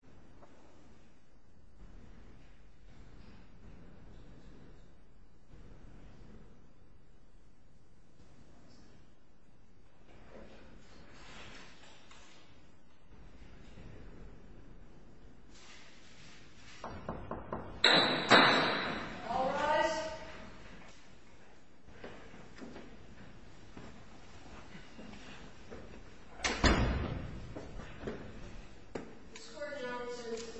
Bridgeport Financial Bridgeport Financial Bridgeport Financial All rise. This court now returns to the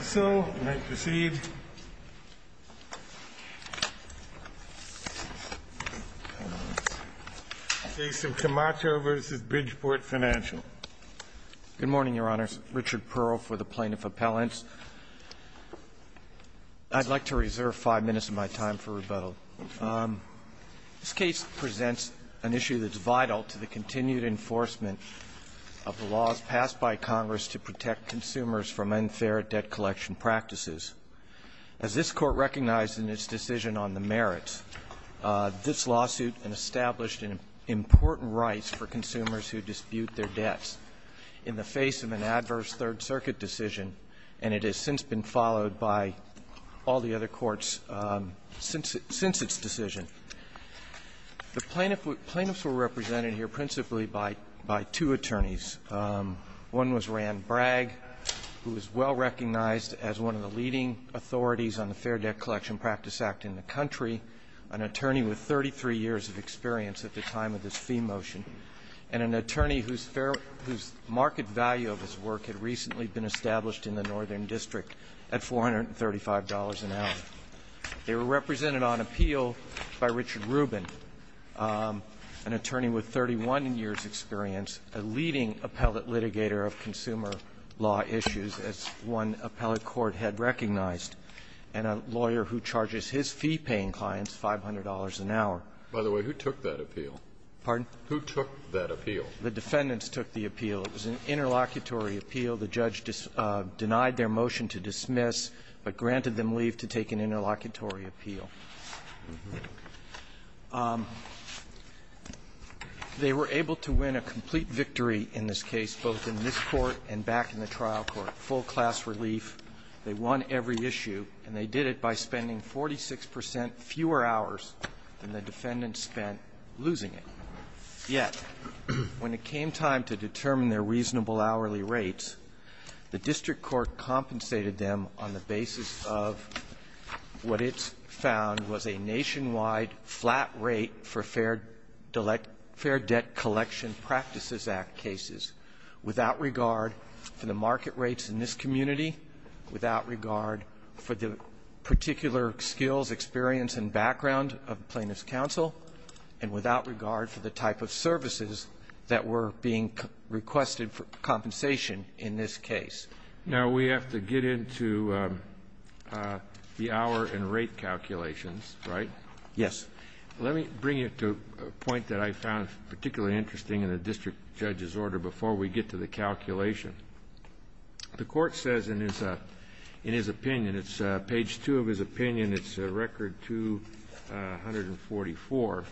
session. So, you may proceed. The case of Camacho v. Bridgeport Financial. Good morning, Your Honors. Richard Pearl for the Plaintiff Appellants. I'd like to reserve five minutes of my time for rebuttal. This case presents an issue that's vital to the continued enforcement of the laws passed by Congress to protect consumers from unfair debt collection practices. As this Court recognized in its decision on the merits, this lawsuit established an important right for consumers who dispute their debts in the face of an adverse Third Circuit decision, and it has since been followed by all the other courts since its decision. The plaintiffs were represented here principally by two attorneys. One was Rand Bragg, who is well recognized as one of the leading authorities on the Fair Debt Collection Practice Act in the country, an attorney with 33 years of experience at the time of this fee motion, and an attorney whose market value of his work had recently been established in the Northern District at $435 an hour. They were represented on appeal by Richard Rubin, an attorney with 31 years' experience, a leading appellate litigator of consumer law issues, as one appellate court had recognized, and a lawyer who charges his fee-paying clients $500 an hour. By the way, who took that appeal? Pardon? Who took that appeal? The defendants took the appeal. It was an interlocutory appeal. The judge denied their motion to dismiss, but granted them leave to take an interlocutory appeal. They were able to win a complete victory in this case, both in this Court and back in the trial court, full class relief. They won every issue, and they did it by spending 46 percent fewer hours than the defendants spent losing it. Yet, when it came time to determine their reasonable hourly rates, the district court compensated them on the basis of what it found was a nationwide flat rate for Fair Debt Collection Practices Act cases, without regard for the market rates in this community, without regard for the particular skills, experience, and background of plaintiff's counsel, and without regard for the type of services that were being requested for compensation in this case. Now, we have to get into the hour and rate calculations, right? Yes. Let me bring you to a point that I found particularly interesting in the district judge's order before we get to the calculation. The Court says in his opinion, it's page 2 of his opinion, it's record 244.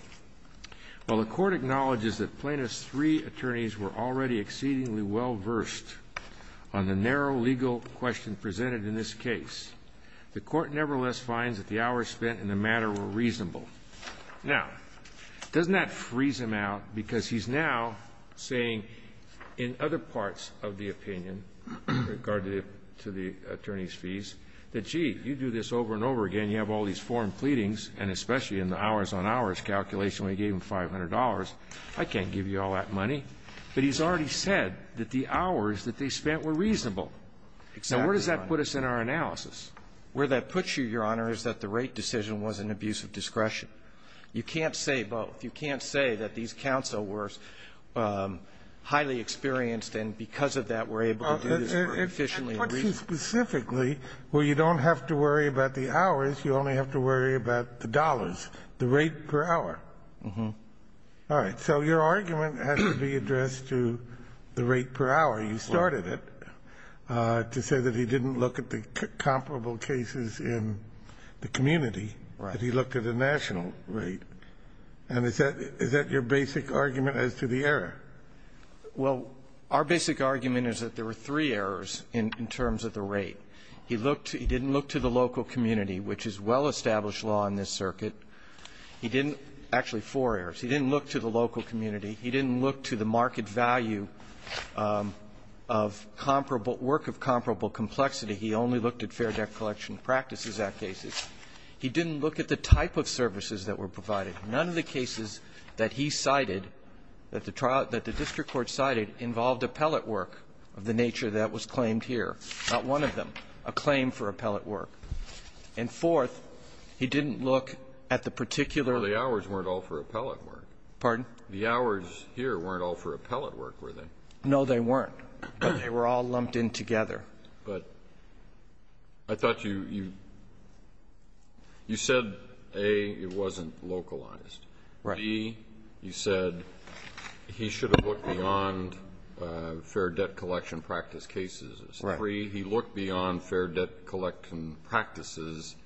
While the Court acknowledges that plaintiff's three attorneys were already exceedingly well versed on the narrow legal question presented in this case, the Court nevertheless finds that the hours spent in the matter were reasonable. Now, doesn't that freeze him out? Because he's now saying in other parts of the opinion, regard to the attorney's fees, that, gee, you do this over and over again, you have all these foreign I can't give you all that money. But he's already said that the hours that they spent were reasonable. Exactly right. Now, where does that put us in our analysis? Where that puts you, Your Honor, is that the rate decision was an abuse of discretion. You can't say both. You can't say that these counsel were highly experienced and because of that were able to do this very efficiently and reasonably. It puts you specifically where you don't have to worry about the hours, you only have to worry about the dollars, the rate per hour. Uh-huh. All right. So your argument has to be addressed to the rate per hour. You started it to say that he didn't look at the comparable cases in the community. Right. That he looked at a national rate. And is that your basic argument as to the error? Well, our basic argument is that there were three errors in terms of the rate. He didn't look to the local community, which is well-established law in this circuit. He didn't – actually, four errors. He didn't look to the local community. He didn't look to the market value of comparable – work of comparable complexity. He only looked at Fair Debt Collection Practices Act cases. He didn't look at the type of services that were provided. None of the cases that he cited, that the district court cited, involved appellate work of the nature that was claimed here. Not one of them. A claim for appellate work. And fourth, he didn't look at the particular – Well, the hours weren't all for appellate work. Pardon? The hours here weren't all for appellate work, were they? No, they weren't. But they were all lumped in together. But I thought you – you said, A, it wasn't localized. Right. And E, you said he should have looked beyond Fair Debt Collection Practice cases. Right. Three, he looked beyond Fair Debt Collection Practices.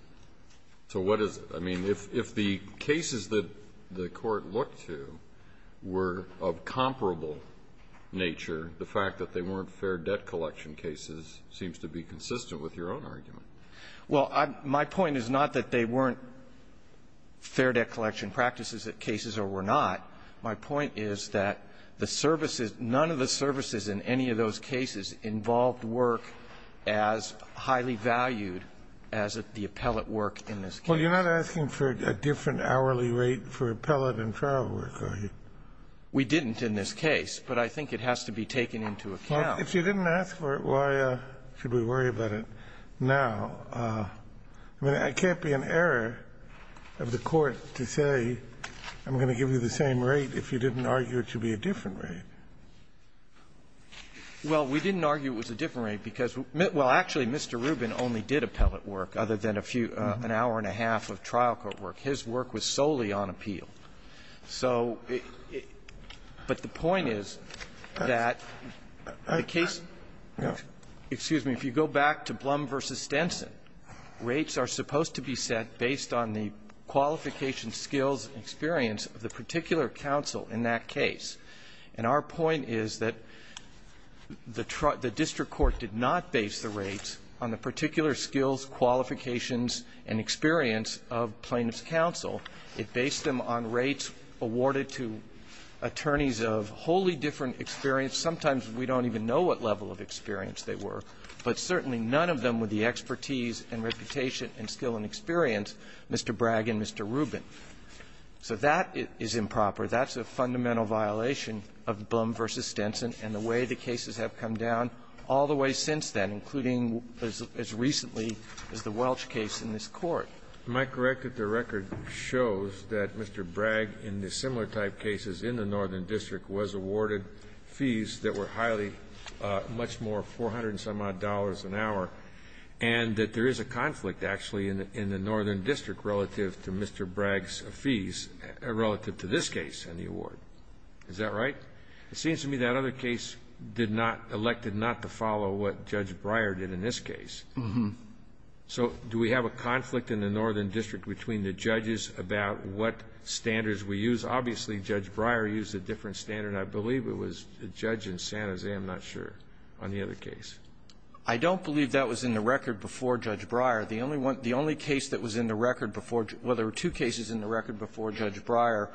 So what is – I mean, if the cases that the court looked to were of comparable nature, the fact that they weren't Fair Debt Collection cases seems to be consistent with your own argument. Well, my point is not that they weren't Fair Debt Collection Practices cases or were not. My point is that the services – none of the services in any of those cases involved work as highly valued as the appellate work in this case. Well, you're not asking for a different hourly rate for appellate and trial work, are you? We didn't in this case, but I think it has to be taken into account. Well, if you didn't ask for it, why should we worry about it now? I mean, it can't be an error of the Court to say I'm going to give you the same rate if you didn't argue it should be a different rate. Well, we didn't argue it was a different rate because – well, actually, Mr. Rubin only did appellate work other than a few – an hour and a half of trial court work. His work was solely on appeal. So – but the point is that the case – excuse me. If you go back to Blum v. Stenson, rates are supposed to be set based on the qualification, skills, and experience of the particular counsel in that case. And our point is that the district court did not base the rates on the particular skills, qualifications, and experience of plaintiff's counsel. It based them on rates awarded to attorneys of wholly different experience. Sometimes we don't even know what level of experience they were, but certainly none of them with the expertise and reputation and skill and experience, Mr. Bragg and Mr. Rubin. So that is improper. That's a fundamental violation of Blum v. Stenson and the way the cases have come down all the way since then, including as recently as the Welch case in this Court. Am I correct that the record shows that Mr. Bragg in the similar type cases in the Northern District was awarded fees that were highly much more, $400-some-odd an hour, and that there is a conflict actually in the Northern District relative to Mr. Bragg's fees relative to this case in the award? Is that right? It seems to me that other case did not – elected not to follow what Judge Breyer did in this case. Uh-huh. So do we have a conflict in the Northern District between the judges about what standards we use? Obviously, Judge Breyer used a different standard. I believe it was the judge in San Jose. I'm not sure on the other case. I don't believe that was in the record before Judge Breyer. The only one – the only case that was in the record before – well, there were two cases in the record before Judge Breyer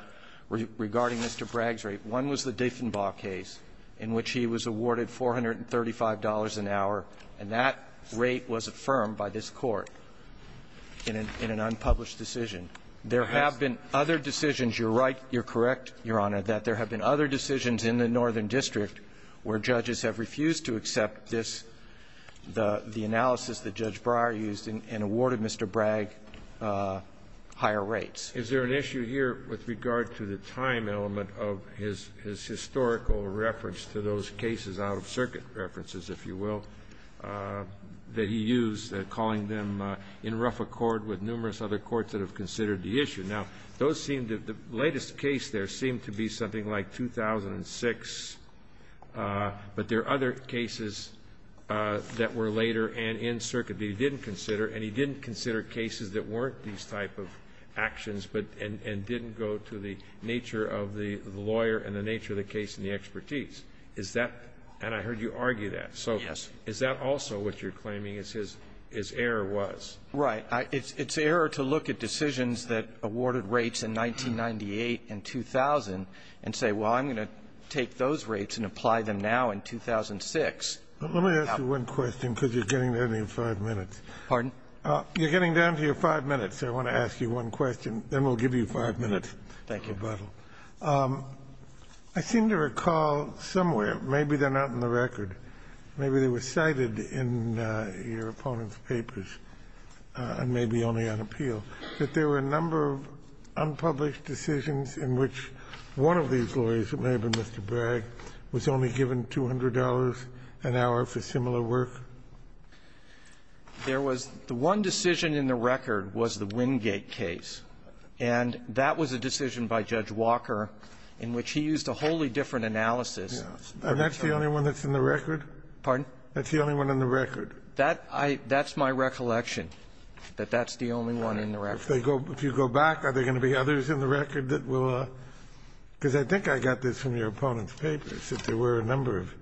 regarding Mr. Bragg's rate. One was the Diffenbaugh case in which he was awarded $435 an hour, and that rate was affirmed by this Court in an unpublished decision. There have been other decisions. You're right. You're correct, Your Honor, that there have been other decisions in the Northern District where judges have refused to accept this – the analysis that Judge Breyer used and awarded Mr. Bragg higher rates. Is there an issue here with regard to the time element of his historical reference to those cases out of circuit references, if you will, that he used, calling them in rough accord with numerous other courts that have considered the issue? Now, those seem to – the latest case there seemed to be something like 2006, but there are other cases that were later and in circuit that he didn't consider, and he didn't consider cases that weren't these type of actions but – and didn't go to the nature of the lawyer and the nature of the case and the expertise. Is that – and I heard you argue that. So is that also what you're claiming is his – his error was? Right. It's error to look at decisions that awarded rates in 1998 and 2000 and say, well, I'm going to take those rates and apply them now in 2006. Let me ask you one question, because you're getting to the end of your 5 minutes. Pardon? You're getting down to your 5 minutes, so I want to ask you one question. Then we'll give you 5 minutes. Thank you. I seem to recall somewhere, maybe they're not in the record, maybe they were cited in your opponent's papers, and maybe only on appeal, that there were a number of unpublished decisions in which one of these lawyers, it may have been Mr. Bragg, was only given $200 an hour for similar work. There was – the one decision in the record was the Wingate case. And that was a decision by Judge Walker in which he used a wholly different analysis. Yes. And that's the only one that's in the record? Pardon? That's the only one in the record. That I – that's my recollection, that that's the only one in the record. If they go – if you go back, are there going to be others in the record that will – because I think I got this from your opponent's papers, that there were a number of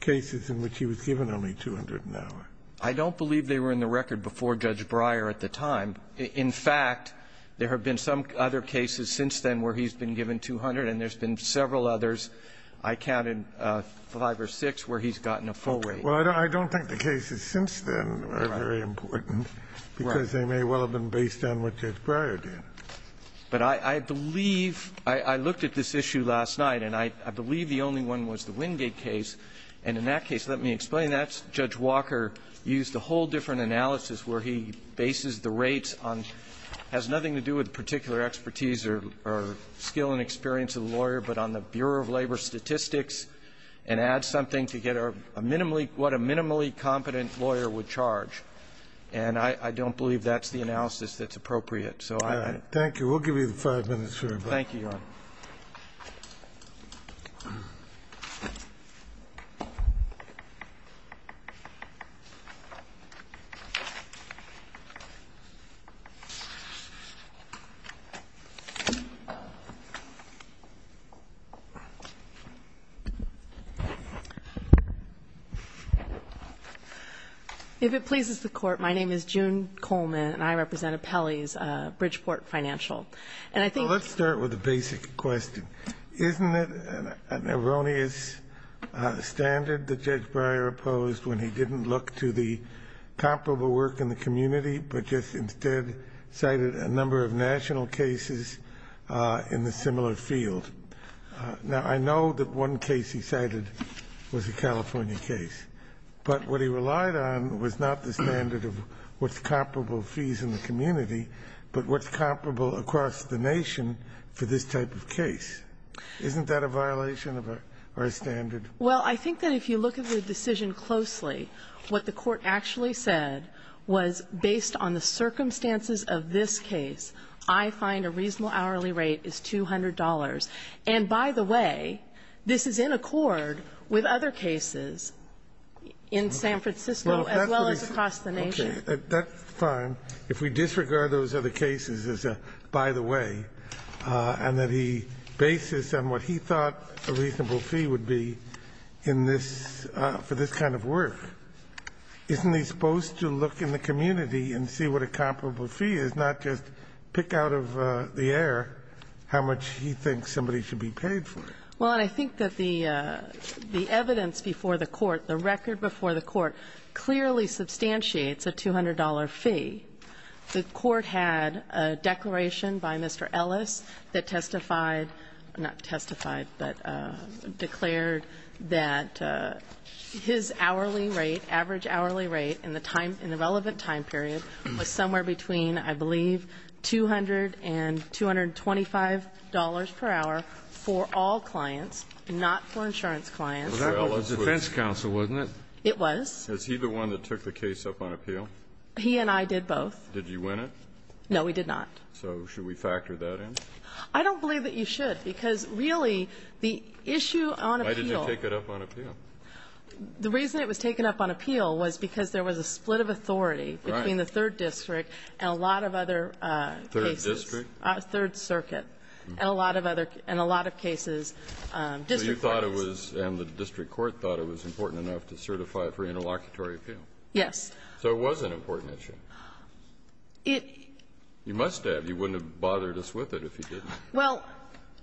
cases in which he was given only $200 an hour. I don't believe they were in the record before Judge Breyer at the time. In fact, there have been some other cases since then where he's been given $200, and there's been several others. I counted five or six where he's gotten a full rate. Well, I don't think the cases since then are very important, because they may well have been based on what Judge Breyer did. But I believe – I looked at this issue last night, and I believe the only one was the Wingate case. And in that case, let me explain that. Judge Walker used a whole different analysis where he bases the rates on – has nothing to do with particular expertise or skill and experience of the lawyer, but on the Bureau of Labor statistics and adds something to get a minimally – what a minimally competent lawyer would charge. And I don't believe that's the analysis that's appropriate. So I – All right. Thank you. We'll give you the five minutes, Your Honor. Thank you, Your Honor. If it pleases the Court, my name is June Coleman, and I represent Apelli's Bridgeport Financial. And I think – Well, let's start with a basic question. Isn't it an erroneous standard that Judge Breyer opposed when he didn't look to the comparable work in the community, but just instead cited a number of national cases in the similar field? Now, I know that one case he cited was a California case, but what he relied on was not the standard of what's comparable fees in the community, but what's comparable across the nation for this type of case. Isn't that a violation of our standard? Well, I think that if you look at the decision closely, what the Court actually said was, based on the circumstances of this case, I find a reasonable hourly rate is $200. And by the way, this is in accord with other cases in San Francisco as well as across the nation. That's fine. If we disregard those other cases as a by-the-way, and that he bases on what he thought a reasonable fee would be in this – for this kind of work, isn't he supposed to look in the community and see what a comparable fee is, not just pick out of the air how much he thinks somebody should be paid for it? Well, and I think that the evidence before the Court, the record before the Court clearly substantiates a $200 fee. The Court had a declaration by Mr. Ellis that testified – not testified, but declared that his hourly rate, average hourly rate in the time – in the relevant time period was somewhere between, I believe, $200 and $225 per hour for all clients, not for insurance clients. That was the defense counsel, wasn't it? It was. Is he the one that took the case up on appeal? He and I did both. Did you win it? No, we did not. So should we factor that in? I don't believe that you should, because really the issue on appeal – Why did you take it up on appeal? The reason it was taken up on appeal was because there was a split of authority between the Third District and a lot of other cases. Third District? Third Circuit. And a lot of other – and a lot of cases, district courts. And the district court thought it was important enough to certify it for interlocutory appeal? Yes. So it was an important issue? It – You must have. You wouldn't have bothered us with it if you didn't. Well,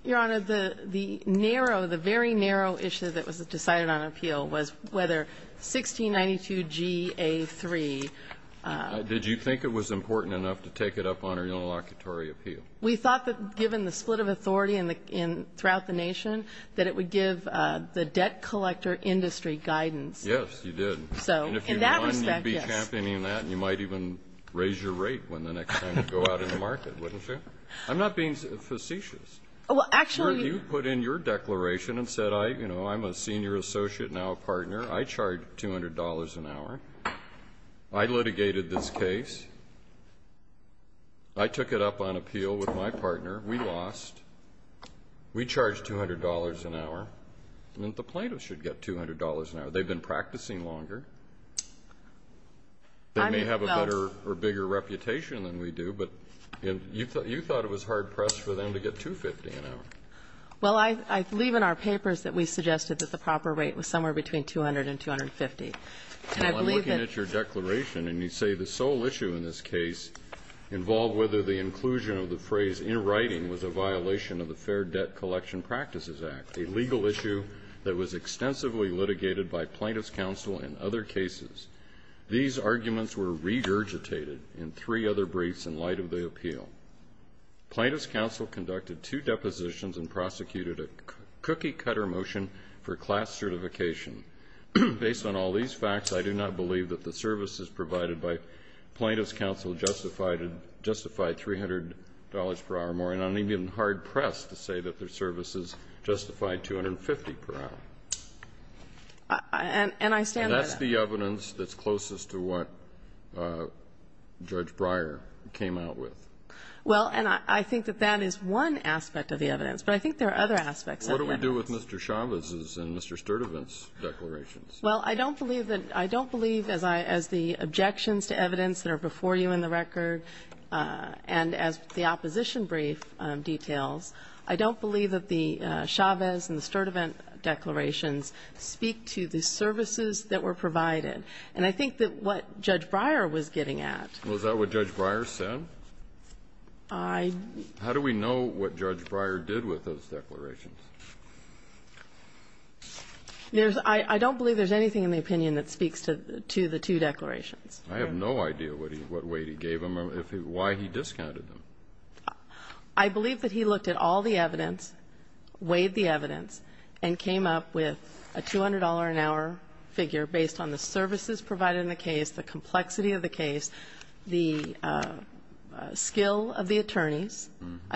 Your Honor, the narrow, the very narrow issue that was decided on appeal was whether 1692 G.A. 3 – Did you think it was important enough to take it up on our interlocutory appeal? We thought that given the split of authority throughout the nation that it would give the debt collector industry guidance. Yes, you did. And if you won, you'd be championing that, and you might even raise your rate when the next time you go out in the market, wouldn't you? I'm not being facetious. Well, actually – You put in your declaration and said, you know, I'm a senior associate, now a partner. I charge $200 an hour. I litigated this case. I took it up on appeal with my partner. We lost. We charged $200 an hour. The plaintiffs should get $200 an hour. They've been practicing longer. They may have a better or bigger reputation than we do, but you thought it was hard pressed for them to get $250 an hour. Well, I believe in our papers that we suggested that the proper rate was somewhere between $200 and $250. And I believe that – involved whether the inclusion of the phrase in writing was a violation of the Fair Debt Collection Practices Act, a legal issue that was extensively litigated by plaintiffs' counsel in other cases. These arguments were regurgitated in three other briefs in light of the appeal. Plaintiffs' counsel conducted two depositions and prosecuted a cookie-cutter motion for class certification. Based on all these facts, I do not believe that the services provided by plaintiffs' counsel justified $300 per hour more, and I'm even hard-pressed to say that their services justified $250 per hour. And I stand by that. And that's the evidence that's closest to what Judge Breyer came out with. Well, and I think that that is one aspect of the evidence. But I think there are other aspects of the evidence. What do we do with Mr. Chavez's and Mr. Sturtevant's declarations? Well, I don't believe that as the objections to evidence that are before you in the record, and as the opposition brief details, I don't believe that the Chavez and the Sturtevant declarations speak to the services that were provided. And I think that what Judge Breyer was getting at ---- Well, is that what Judge Breyer said? I ---- How do we know what Judge Breyer did with those declarations? I don't believe there's anything in the opinion that speaks to the two declarations. I have no idea what weight he gave them or why he discounted them. I believe that he looked at all the evidence, weighed the evidence, and came up with a $200-an-hour figure based on the services provided in the case, the complexity I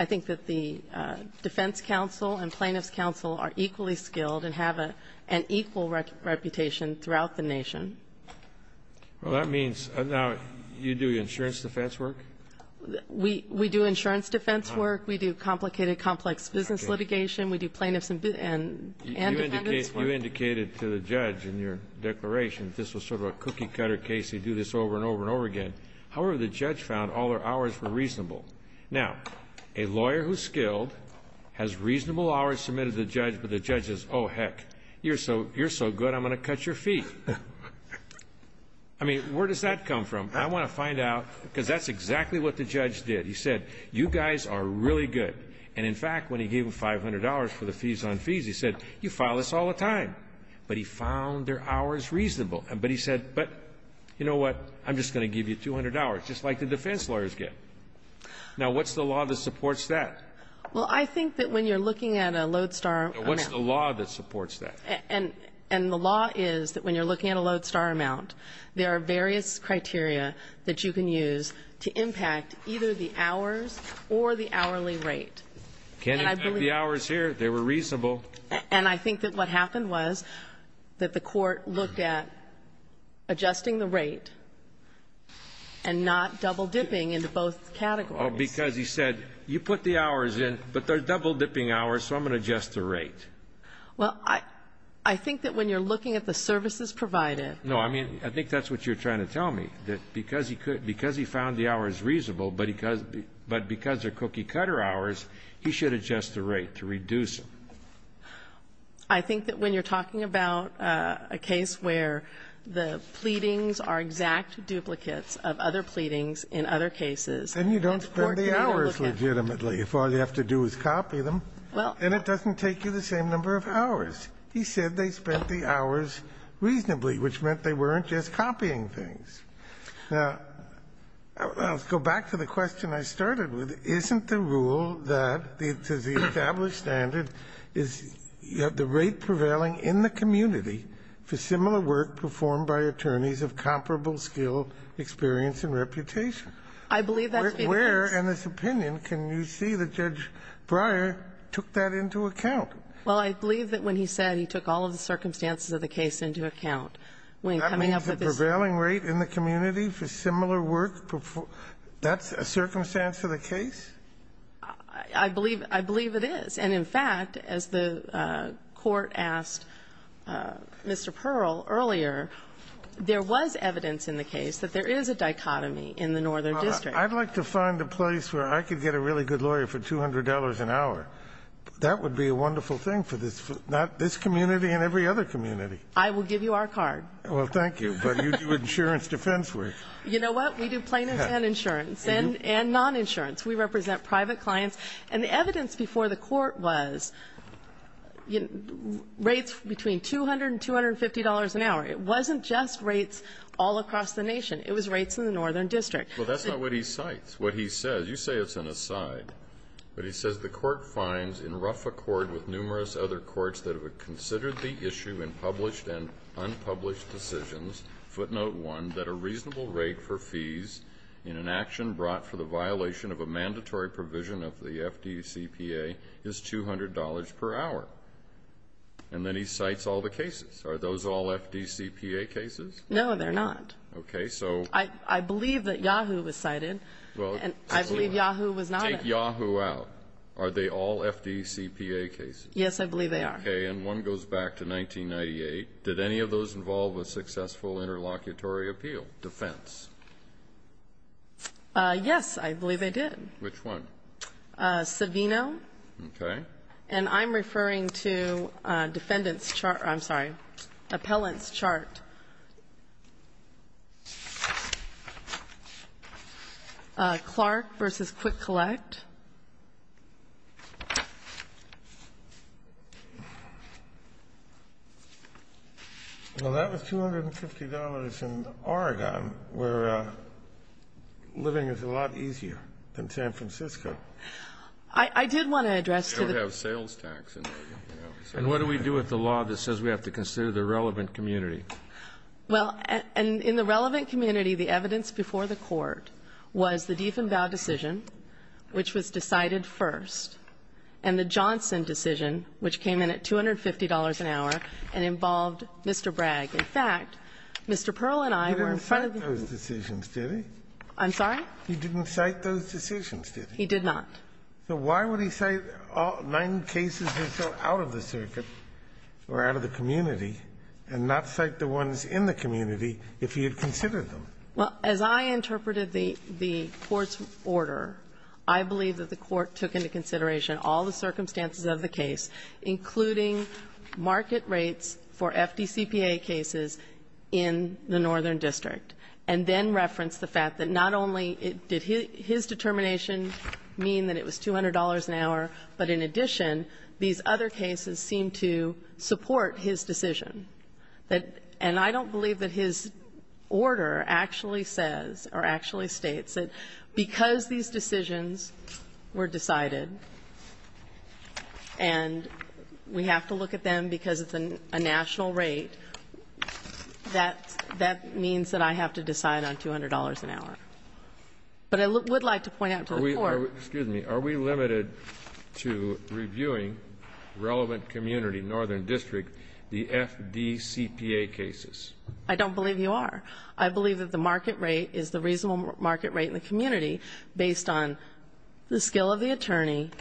think that the defense counsel and plaintiff's counsel are equally skilled and have an equal reputation throughout the nation. Well, that means now you do insurance defense work? We do insurance defense work. We do complicated, complex business litigation. We do plaintiffs and defendants. You indicated to the judge in your declaration that this was sort of a cookie-cutter case. You do this over and over and over again. However, the judge found all their hours were reasonable. Now, a lawyer who's skilled has reasonable hours submitted to the judge, but the judge says, oh, heck, you're so good, I'm going to cut your fee. I mean, where does that come from? I want to find out, because that's exactly what the judge did. He said, you guys are really good. And, in fact, when he gave them $500 for the fees on fees, he said, you file this all the time. But he found their hours reasonable. But he said, but you know what? I'm just going to give you $200, just like the defense lawyers get. Now, what's the law that supports that? Well, I think that when you're looking at a lodestar amount. What's the law that supports that? And the law is that when you're looking at a lodestar amount, there are various criteria that you can use to impact either the hours or the hourly rate. Can't impact the hours here. They were reasonable. And I think that what happened was that the court looked at adjusting the rate and not double dipping into both categories. Well, because he said, you put the hours in, but they're double dipping hours, so I'm going to adjust the rate. Well, I think that when you're looking at the services provided. No, I mean, I think that's what you're trying to tell me, that because he found the hours reasonable, but because they're cookie-cutter hours, he should adjust the rate to reduce them. I think that when you're talking about a case where the pleadings are exact duplicates of other pleadings in other cases. And you don't spend the hours legitimately if all you have to do is copy them. And it doesn't take you the same number of hours. He said they spent the hours reasonably, which meant they weren't just copying things. Now, let's go back to the question I started with. Isn't the rule that the established standard is the rate prevailing in the community for similar work performed by attorneys of comparable skill, experience, and reputation? I believe that to be the case. Where in this opinion can you see that Judge Breyer took that into account? Well, I believe that when he said he took all of the circumstances of the case into account when coming up with this. That means the prevailing rate in the community for similar work performed that's a circumstance of the case? I believe it is. And, in fact, as the Court asked Mr. Pearl earlier, there was evidence in the case that there is a dichotomy in the northern district. I'd like to find a place where I could get a really good lawyer for $200 an hour. That would be a wonderful thing for this community and every other community. I will give you our card. Well, thank you. But you do insurance defense work. You know what? We do plaintiffs and insurance and non-insurance. We represent private clients. And the evidence before the Court was rates between $200 and $250 an hour. It wasn't just rates all across the nation. It was rates in the northern district. Well, that's not what he cites. What he says, you say it's an aside. But he says the Court finds in rough accord with numerous other courts that have considered the issue in published and unpublished decisions, footnote one, that a reasonable rate for fees in an action brought for the violation of a mandatory provision of the FDCPA is $200 per hour. And then he cites all the cases. Are those all FDCPA cases? No, they're not. Okay, so. I believe that Yahoo was cited. I believe Yahoo was not. Take Yahoo out. Are they all FDCPA cases? Yes, I believe they are. Okay, and one goes back to 1998. Did any of those involve a successful interlocutory appeal defense? Yes, I believe they did. Which one? Savino. Okay. And I'm referring to defendant's chart. I'm sorry, appellant's chart. Clark v. Quick Collect. Well, that was $250 in Oregon, where living is a lot easier than San Francisco. I did want to address to the Court. You don't have sales tax in Oregon. And what do we do with the law that says we have to consider the relevant community? Well, in the relevant community, the evidence before the Court was the Diefenbau decision, which was decided first, and the Johnson decision, which came in at $250 an hour and involved Mr. Bragg. In fact, Mr. Pearl and I were in front of the room. He didn't cite those decisions, did he? I'm sorry? He didn't cite those decisions, did he? He did not. So why would he cite nine cases that fell out of the circuit or out of the community and not cite the ones in the community if he had considered them? Well, as I interpreted the Court's order, I believe that the Court took into consideration all the circumstances of the case, including market rates for FDCPA cases in the Northern District, and then referenced the fact that not only did his determination mean that it was $200 an hour, but in addition, these other cases seemed to support his decision. And I don't believe that his order actually says or actually states that because these decisions were decided and we have to look at them because it's a national rate, that means that I have to decide on $200 an hour. But I would like to point out to the Court — I don't believe you are. I believe that the market rate is the reasonable market rate in the community based on the skill of the attorney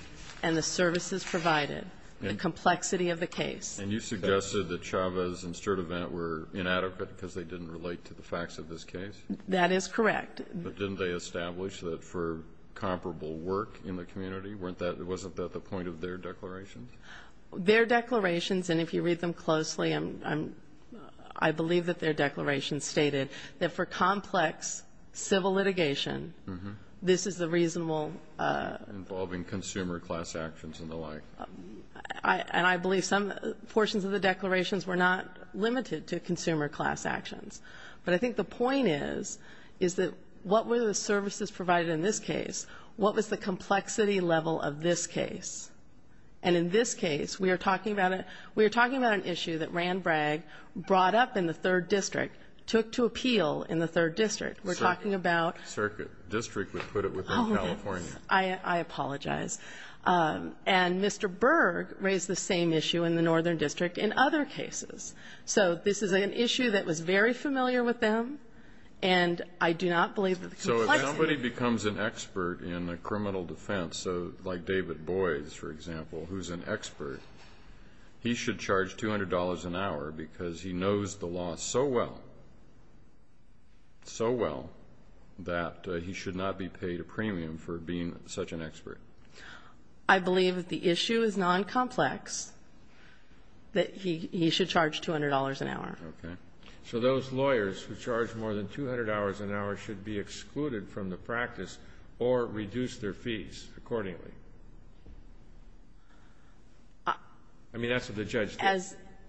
and the services provided, the complexity of the case. And you suggested that Chavez and Sturtevant were inadequate because they didn't relate to the facts of this case? That is correct. But didn't they establish that for comparable work in the community? Wasn't that the point of their declarations? Their declarations, and if you read them closely, I believe that their declarations stated that for complex civil litigation, this is the reasonable Involving consumer class actions and the like. And I believe some portions of the declarations were not limited to consumer class actions. But I think the point is, is that what were the services provided in this case? What was the complexity level of this case? And in this case, we are talking about an issue that Rand Bragg brought up in the 3rd District, took to appeal in the 3rd District. We're talking about — Circuit. District. We put it within California. Oh, yes. I apologize. And Mr. Berg raised the same issue in the Northern District in other cases. So this is an issue that was very familiar with them, and I do not believe that the complexity — So if somebody becomes an expert in a criminal defense, like David Boies, for example, who's an expert, he should charge $200 an hour because he knows the law so well, so well, that he should not be paid a premium for being such an expert. I believe that the issue is noncomplex, that he should charge $200 an hour. Okay. So those lawyers who charge more than $200 an hour should be excluded from the practice or reduce their fees accordingly? I mean, that's what the judge said.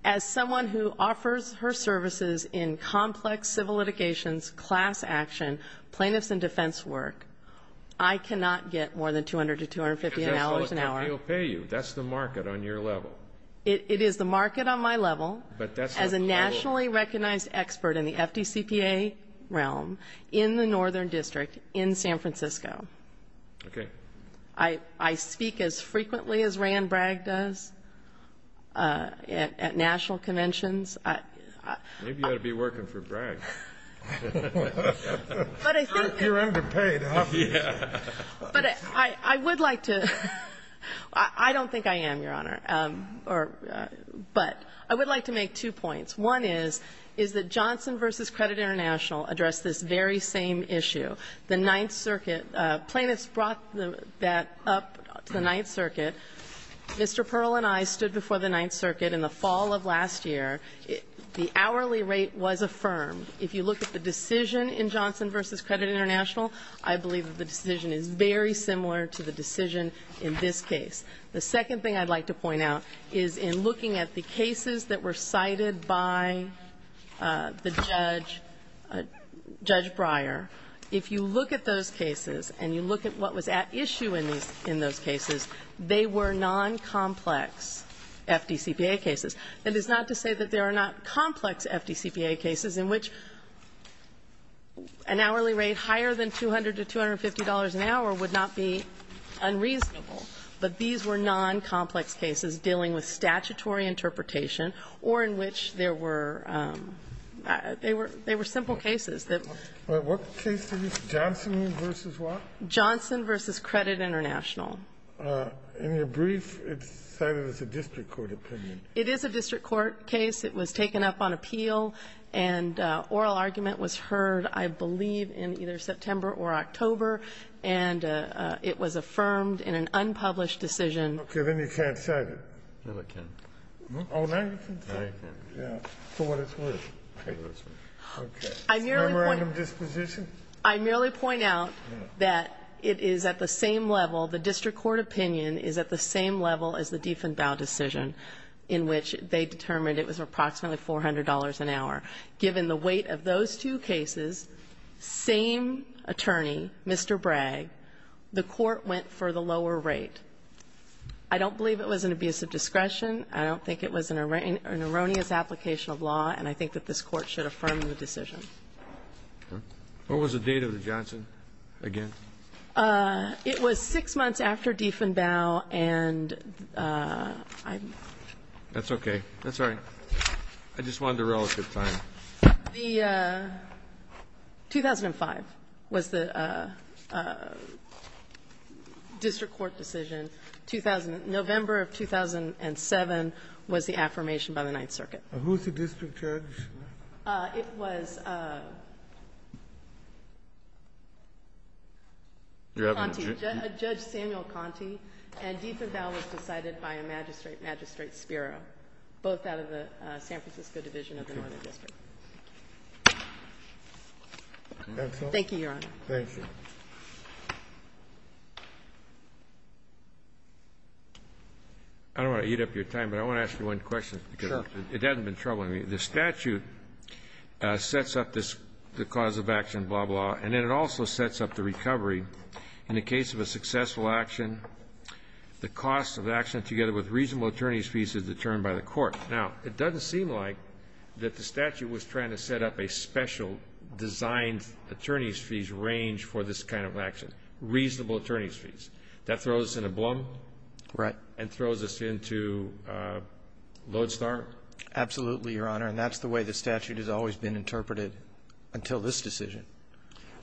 As someone who offers her services in complex civil litigations, class action, plaintiffs and defense work, I cannot get more than $200 to $250 an hour. Because that's how much they'll pay you. That's the market on your level. It is the market on my level. As a nationally recognized expert in the FDCPA realm in the Northern District in San Francisco. Okay. I speak as frequently as Rand Bragg does at national conventions. Maybe you ought to be working for Bragg. You're underpaid, aren't you? But I would like to — I don't think I am, Your Honor. But I would like to make two points. One is, is that Johnson v. Credit International addressed this very same issue. The Ninth Circuit — plaintiffs brought that up to the Ninth Circuit. Mr. Pearl and I stood before the Ninth Circuit in the fall of last year. The hourly rate was affirmed. If you look at the decision in Johnson v. Credit International, I believe that the decision is very similar to the decision in this case. The second thing I'd like to point out is in looking at the cases that were cited by the judge, Judge Breyer, if you look at those cases and you look at what was at issue in those cases, they were non-complex FDCPA cases. That is not to say that there are not complex FDCPA cases in which an hourly rate higher than $200 to $250 an hour would not be unreasonable. But these were non-complex cases dealing with statutory interpretation or in which there were — they were simple cases that — What case is this? Johnson v. what? Johnson v. Credit International. In your brief, it's cited as a district court opinion. It is a district court case. It was taken up on appeal. And oral argument was heard, I believe, in either September or October. And it was affirmed in an unpublished decision. Okay. Then you can't cite it. No, I can. Oh, now you can? Now you can. Yeah. For what it's worth. Okay. I merely point — Memorandum disposition? I merely point out that it is at the same level, the district court opinion is at the same level as the Diefenbau decision in which they determined it was approximately $400 an hour. Given the weight of those two cases, same attorney, Mr. Bragg, the court went for the lower rate. I don't believe it was an abuse of discretion. I don't think it was an erroneous application of law. And I think that this Court should affirm the decision. What was the date of the Johnson again? It was six months after Diefenbau. And I'm — That's okay. That's all right. I just wanted a relative time. The — 2005 was the district court decision. 2000 — November of 2007 was the affirmation by the Ninth Circuit. Who's the district judge? It was Conti. Judge Samuel Conti. And Diefenbau was decided by a magistrate, Magistrate Spiro, both out of the San Francisco Division of the Northern District. That's all. Thank you, Your Honor. Thank you. I don't want to eat up your time, but I want to ask you one question. Sure. Because it hasn't been troubling me. The statute sets up the cause of action, blah, blah. And then it also sets up the recovery. In the case of a successful action, the cost of action together with reasonable attorney's fees is determined by the court. Now, it doesn't seem like that the statute was trying to set up a special designed attorney's fees range for this kind of action, reasonable attorney's fees. That throws us in a blum. Right. And throws us into a lodestar. Absolutely, Your Honor. And that's the way the statute has always been interpreted until this decision.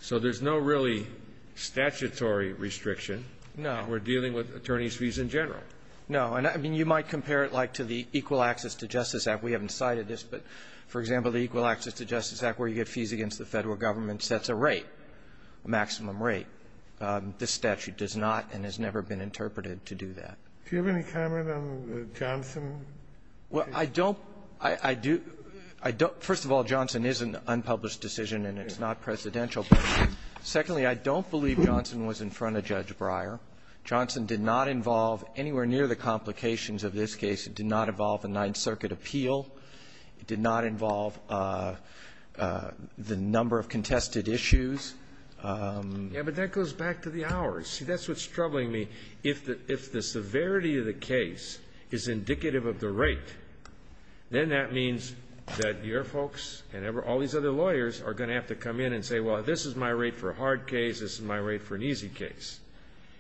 So there's no really statutory restriction. No. And we're dealing with attorney's fees in general. No. And, I mean, you might compare it, like, to the Equal Access to Justice Act. We haven't cited this, but, for example, the Equal Access to Justice Act, where you get fees against the Federal government, sets a rate, maximum rate. This statute does not and has never been interpreted to do that. Do you have any comment on the Johnson case? Well, I don't. I do. I don't. First of all, Johnson is an unpublished decision, and it's not presidential. Secondly, I don't believe Johnson was in front of Judge Breyer. Johnson did not involve anywhere near the complications of this case. It did not involve a Ninth Circuit appeal. It did not involve the number of contested issues. Yeah, but that goes back to the hours. See, that's what's troubling me. If the severity of the case is indicative of the rate, then that means that your folks and all these other lawyers are going to have to come in and say, well, this is my rate for a hard case, this is my rate for an easy case.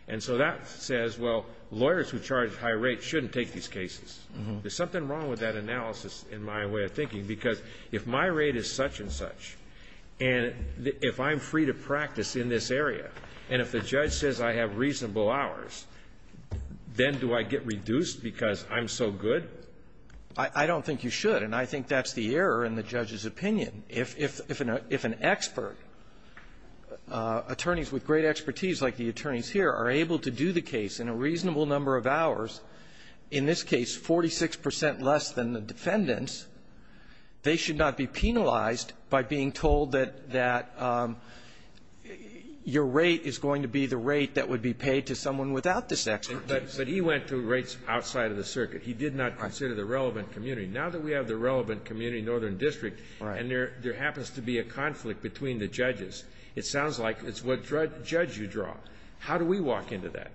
And so that says, well, lawyers who charge high rates shouldn't take these cases. There's something wrong with that analysis, in my way of thinking, because if my rate is such and such, and if I'm free to practice in this area, and if the judge says I have reasonable hours, then do I get reduced because I'm so good? I don't think you should, and I think that's the error in the judge's opinion. If an expert, attorneys with great expertise like the attorneys here are able to do the case in a reasonable number of hours, in this case 46 percent less than the defendants, they should not be penalized by being told that your rate is going to be the rate that would be paid to someone without this expertise. But he went to rates outside of the circuit. He did not consider the relevant community. Now that we have the relevant community, Northern District, and there happens to be a conflict between the judges, it sounds like it's what judge you draw. How do we walk into that?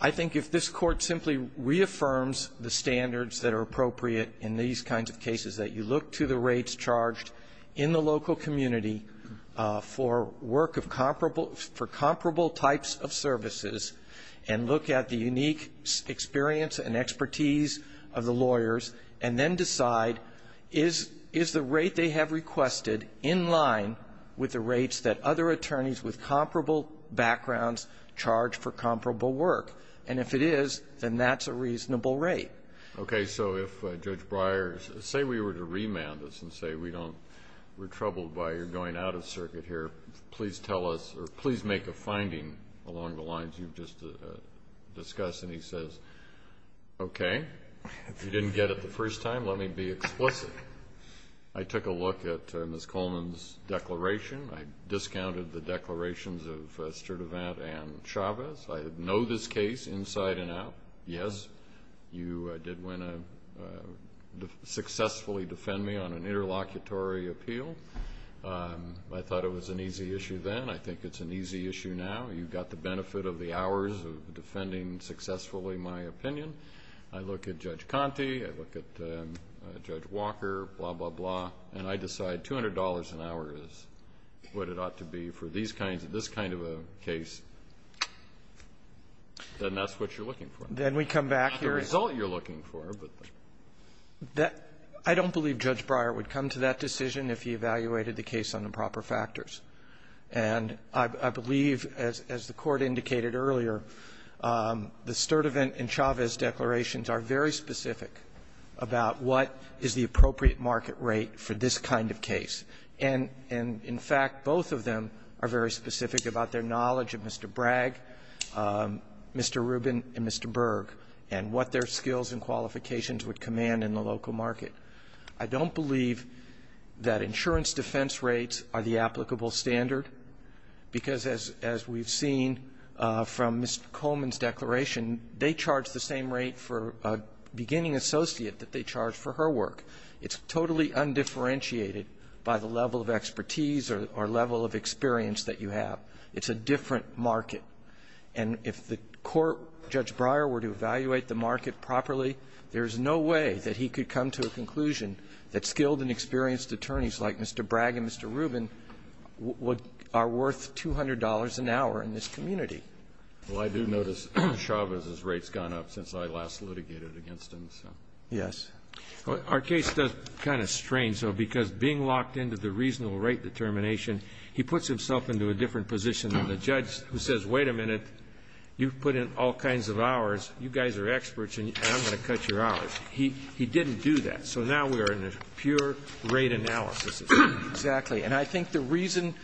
I think if this Court simply reaffirms the standards that are appropriate in these kinds of cases, that you look to the rates charged in the local community for work of comparable, for comparable types of services, and look at the unique experience and expertise of the lawyers, and then decide is the rate they have requested in line with the rates that other attorneys with comparable backgrounds charge for comparable work? And if it is, then that's a reasonable rate. Okay, so if Judge Breyer, say we were to remand this and say we don't, we're troubled by your going out of circuit here, please tell us, or please make a finding along the lines you've just discussed. And he says, okay, if you didn't get it the first time, let me be explicit. I took a look at Ms. Coleman's declaration. I discounted the declarations of Sturdivant and Chavez. I know this case inside and out. Yes, you did successfully defend me on an interlocutory appeal. I thought it was an easy issue then. I think it's an easy issue now. You've got the benefit of the hours of defending successfully my opinion. I look at Judge Conte. I look at Judge Walker, blah, blah, blah. And I decide $200 an hour is what it ought to be for this kind of a case. Then that's what you're looking for. Then we come back here. It's not the result you're looking for. I don't believe Judge Breyer would come to that decision if he evaluated the case on improper factors. And I believe, as the Court indicated earlier, the Sturdivant and Chavez declarations are very specific about what is the appropriate market rate for this kind of case. And in fact, both of them are very specific about their knowledge of Mr. Bragg, Mr. Rubin, and Mr. Berg, and what their skills and qualifications would command in the local market. I don't believe that insurance defense rates are the applicable standard, because as we've seen from Mr. Coleman's declaration, they charge the same rate for a beginning associate that they charge for her work. It's totally undifferentiated by the level of expertise or level of experience that you have. It's a different market. And if the court, Judge Breyer, were to evaluate the market properly, there's no way that he could come to a conclusion that skilled and experienced attorneys like Mr. Bragg and Mr. Rubin are worth $200 an hour in this community. Well, I do notice Chavez's rates gone up since I last litigated against him, so. Yes. Our case does kind of strange, though, because being locked into the reasonable rate determination, he puts himself into a different position than the judge who says, wait a minute, you've put in all kinds of hours, you guys are experts, and I'm going to cut your hours. He didn't do that. So now we are in a pure rate analysis. Exactly. And I think the reason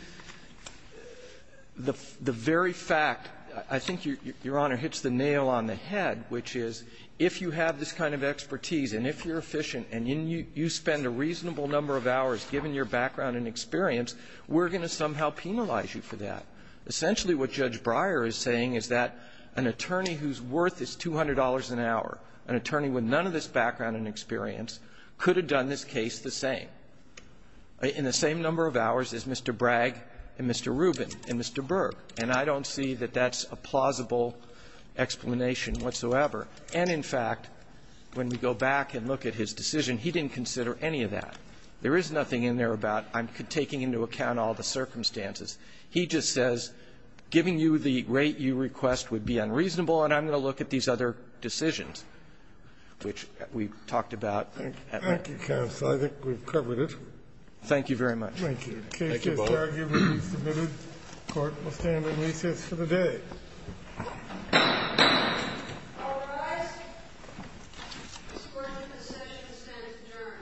the very fact, I think, Your Honor, hits the nail on the head, which is if you have this kind of expertise, and if you're efficient, and you spend a reasonable number of hours, given your background and experience, we're going to somehow penalize you for that. Essentially, what Judge Breyer is saying is that an attorney whose worth is $200 an hour, an attorney with none of this background and experience, could have done this case the same, in the same number of hours as Mr. Bragg and Mr. Rubin and Mr. Berg. And I don't see that that's a plausible explanation whatsoever. And, in fact, when we go back and look at his decision, he didn't consider any of that. There is nothing in there about, I'm taking into account all the circumstances. He just says, giving you the rate you request would be unreasonable, and I'm going to look at these other decisions, which we've talked about. Thank you, counsel. I think we've covered it. Thank you very much. Thank you. Thank you, both. The case is now given and submitted. The Court will stand at recess for the day. All rise. This court's decision stands adjourned. Thank you.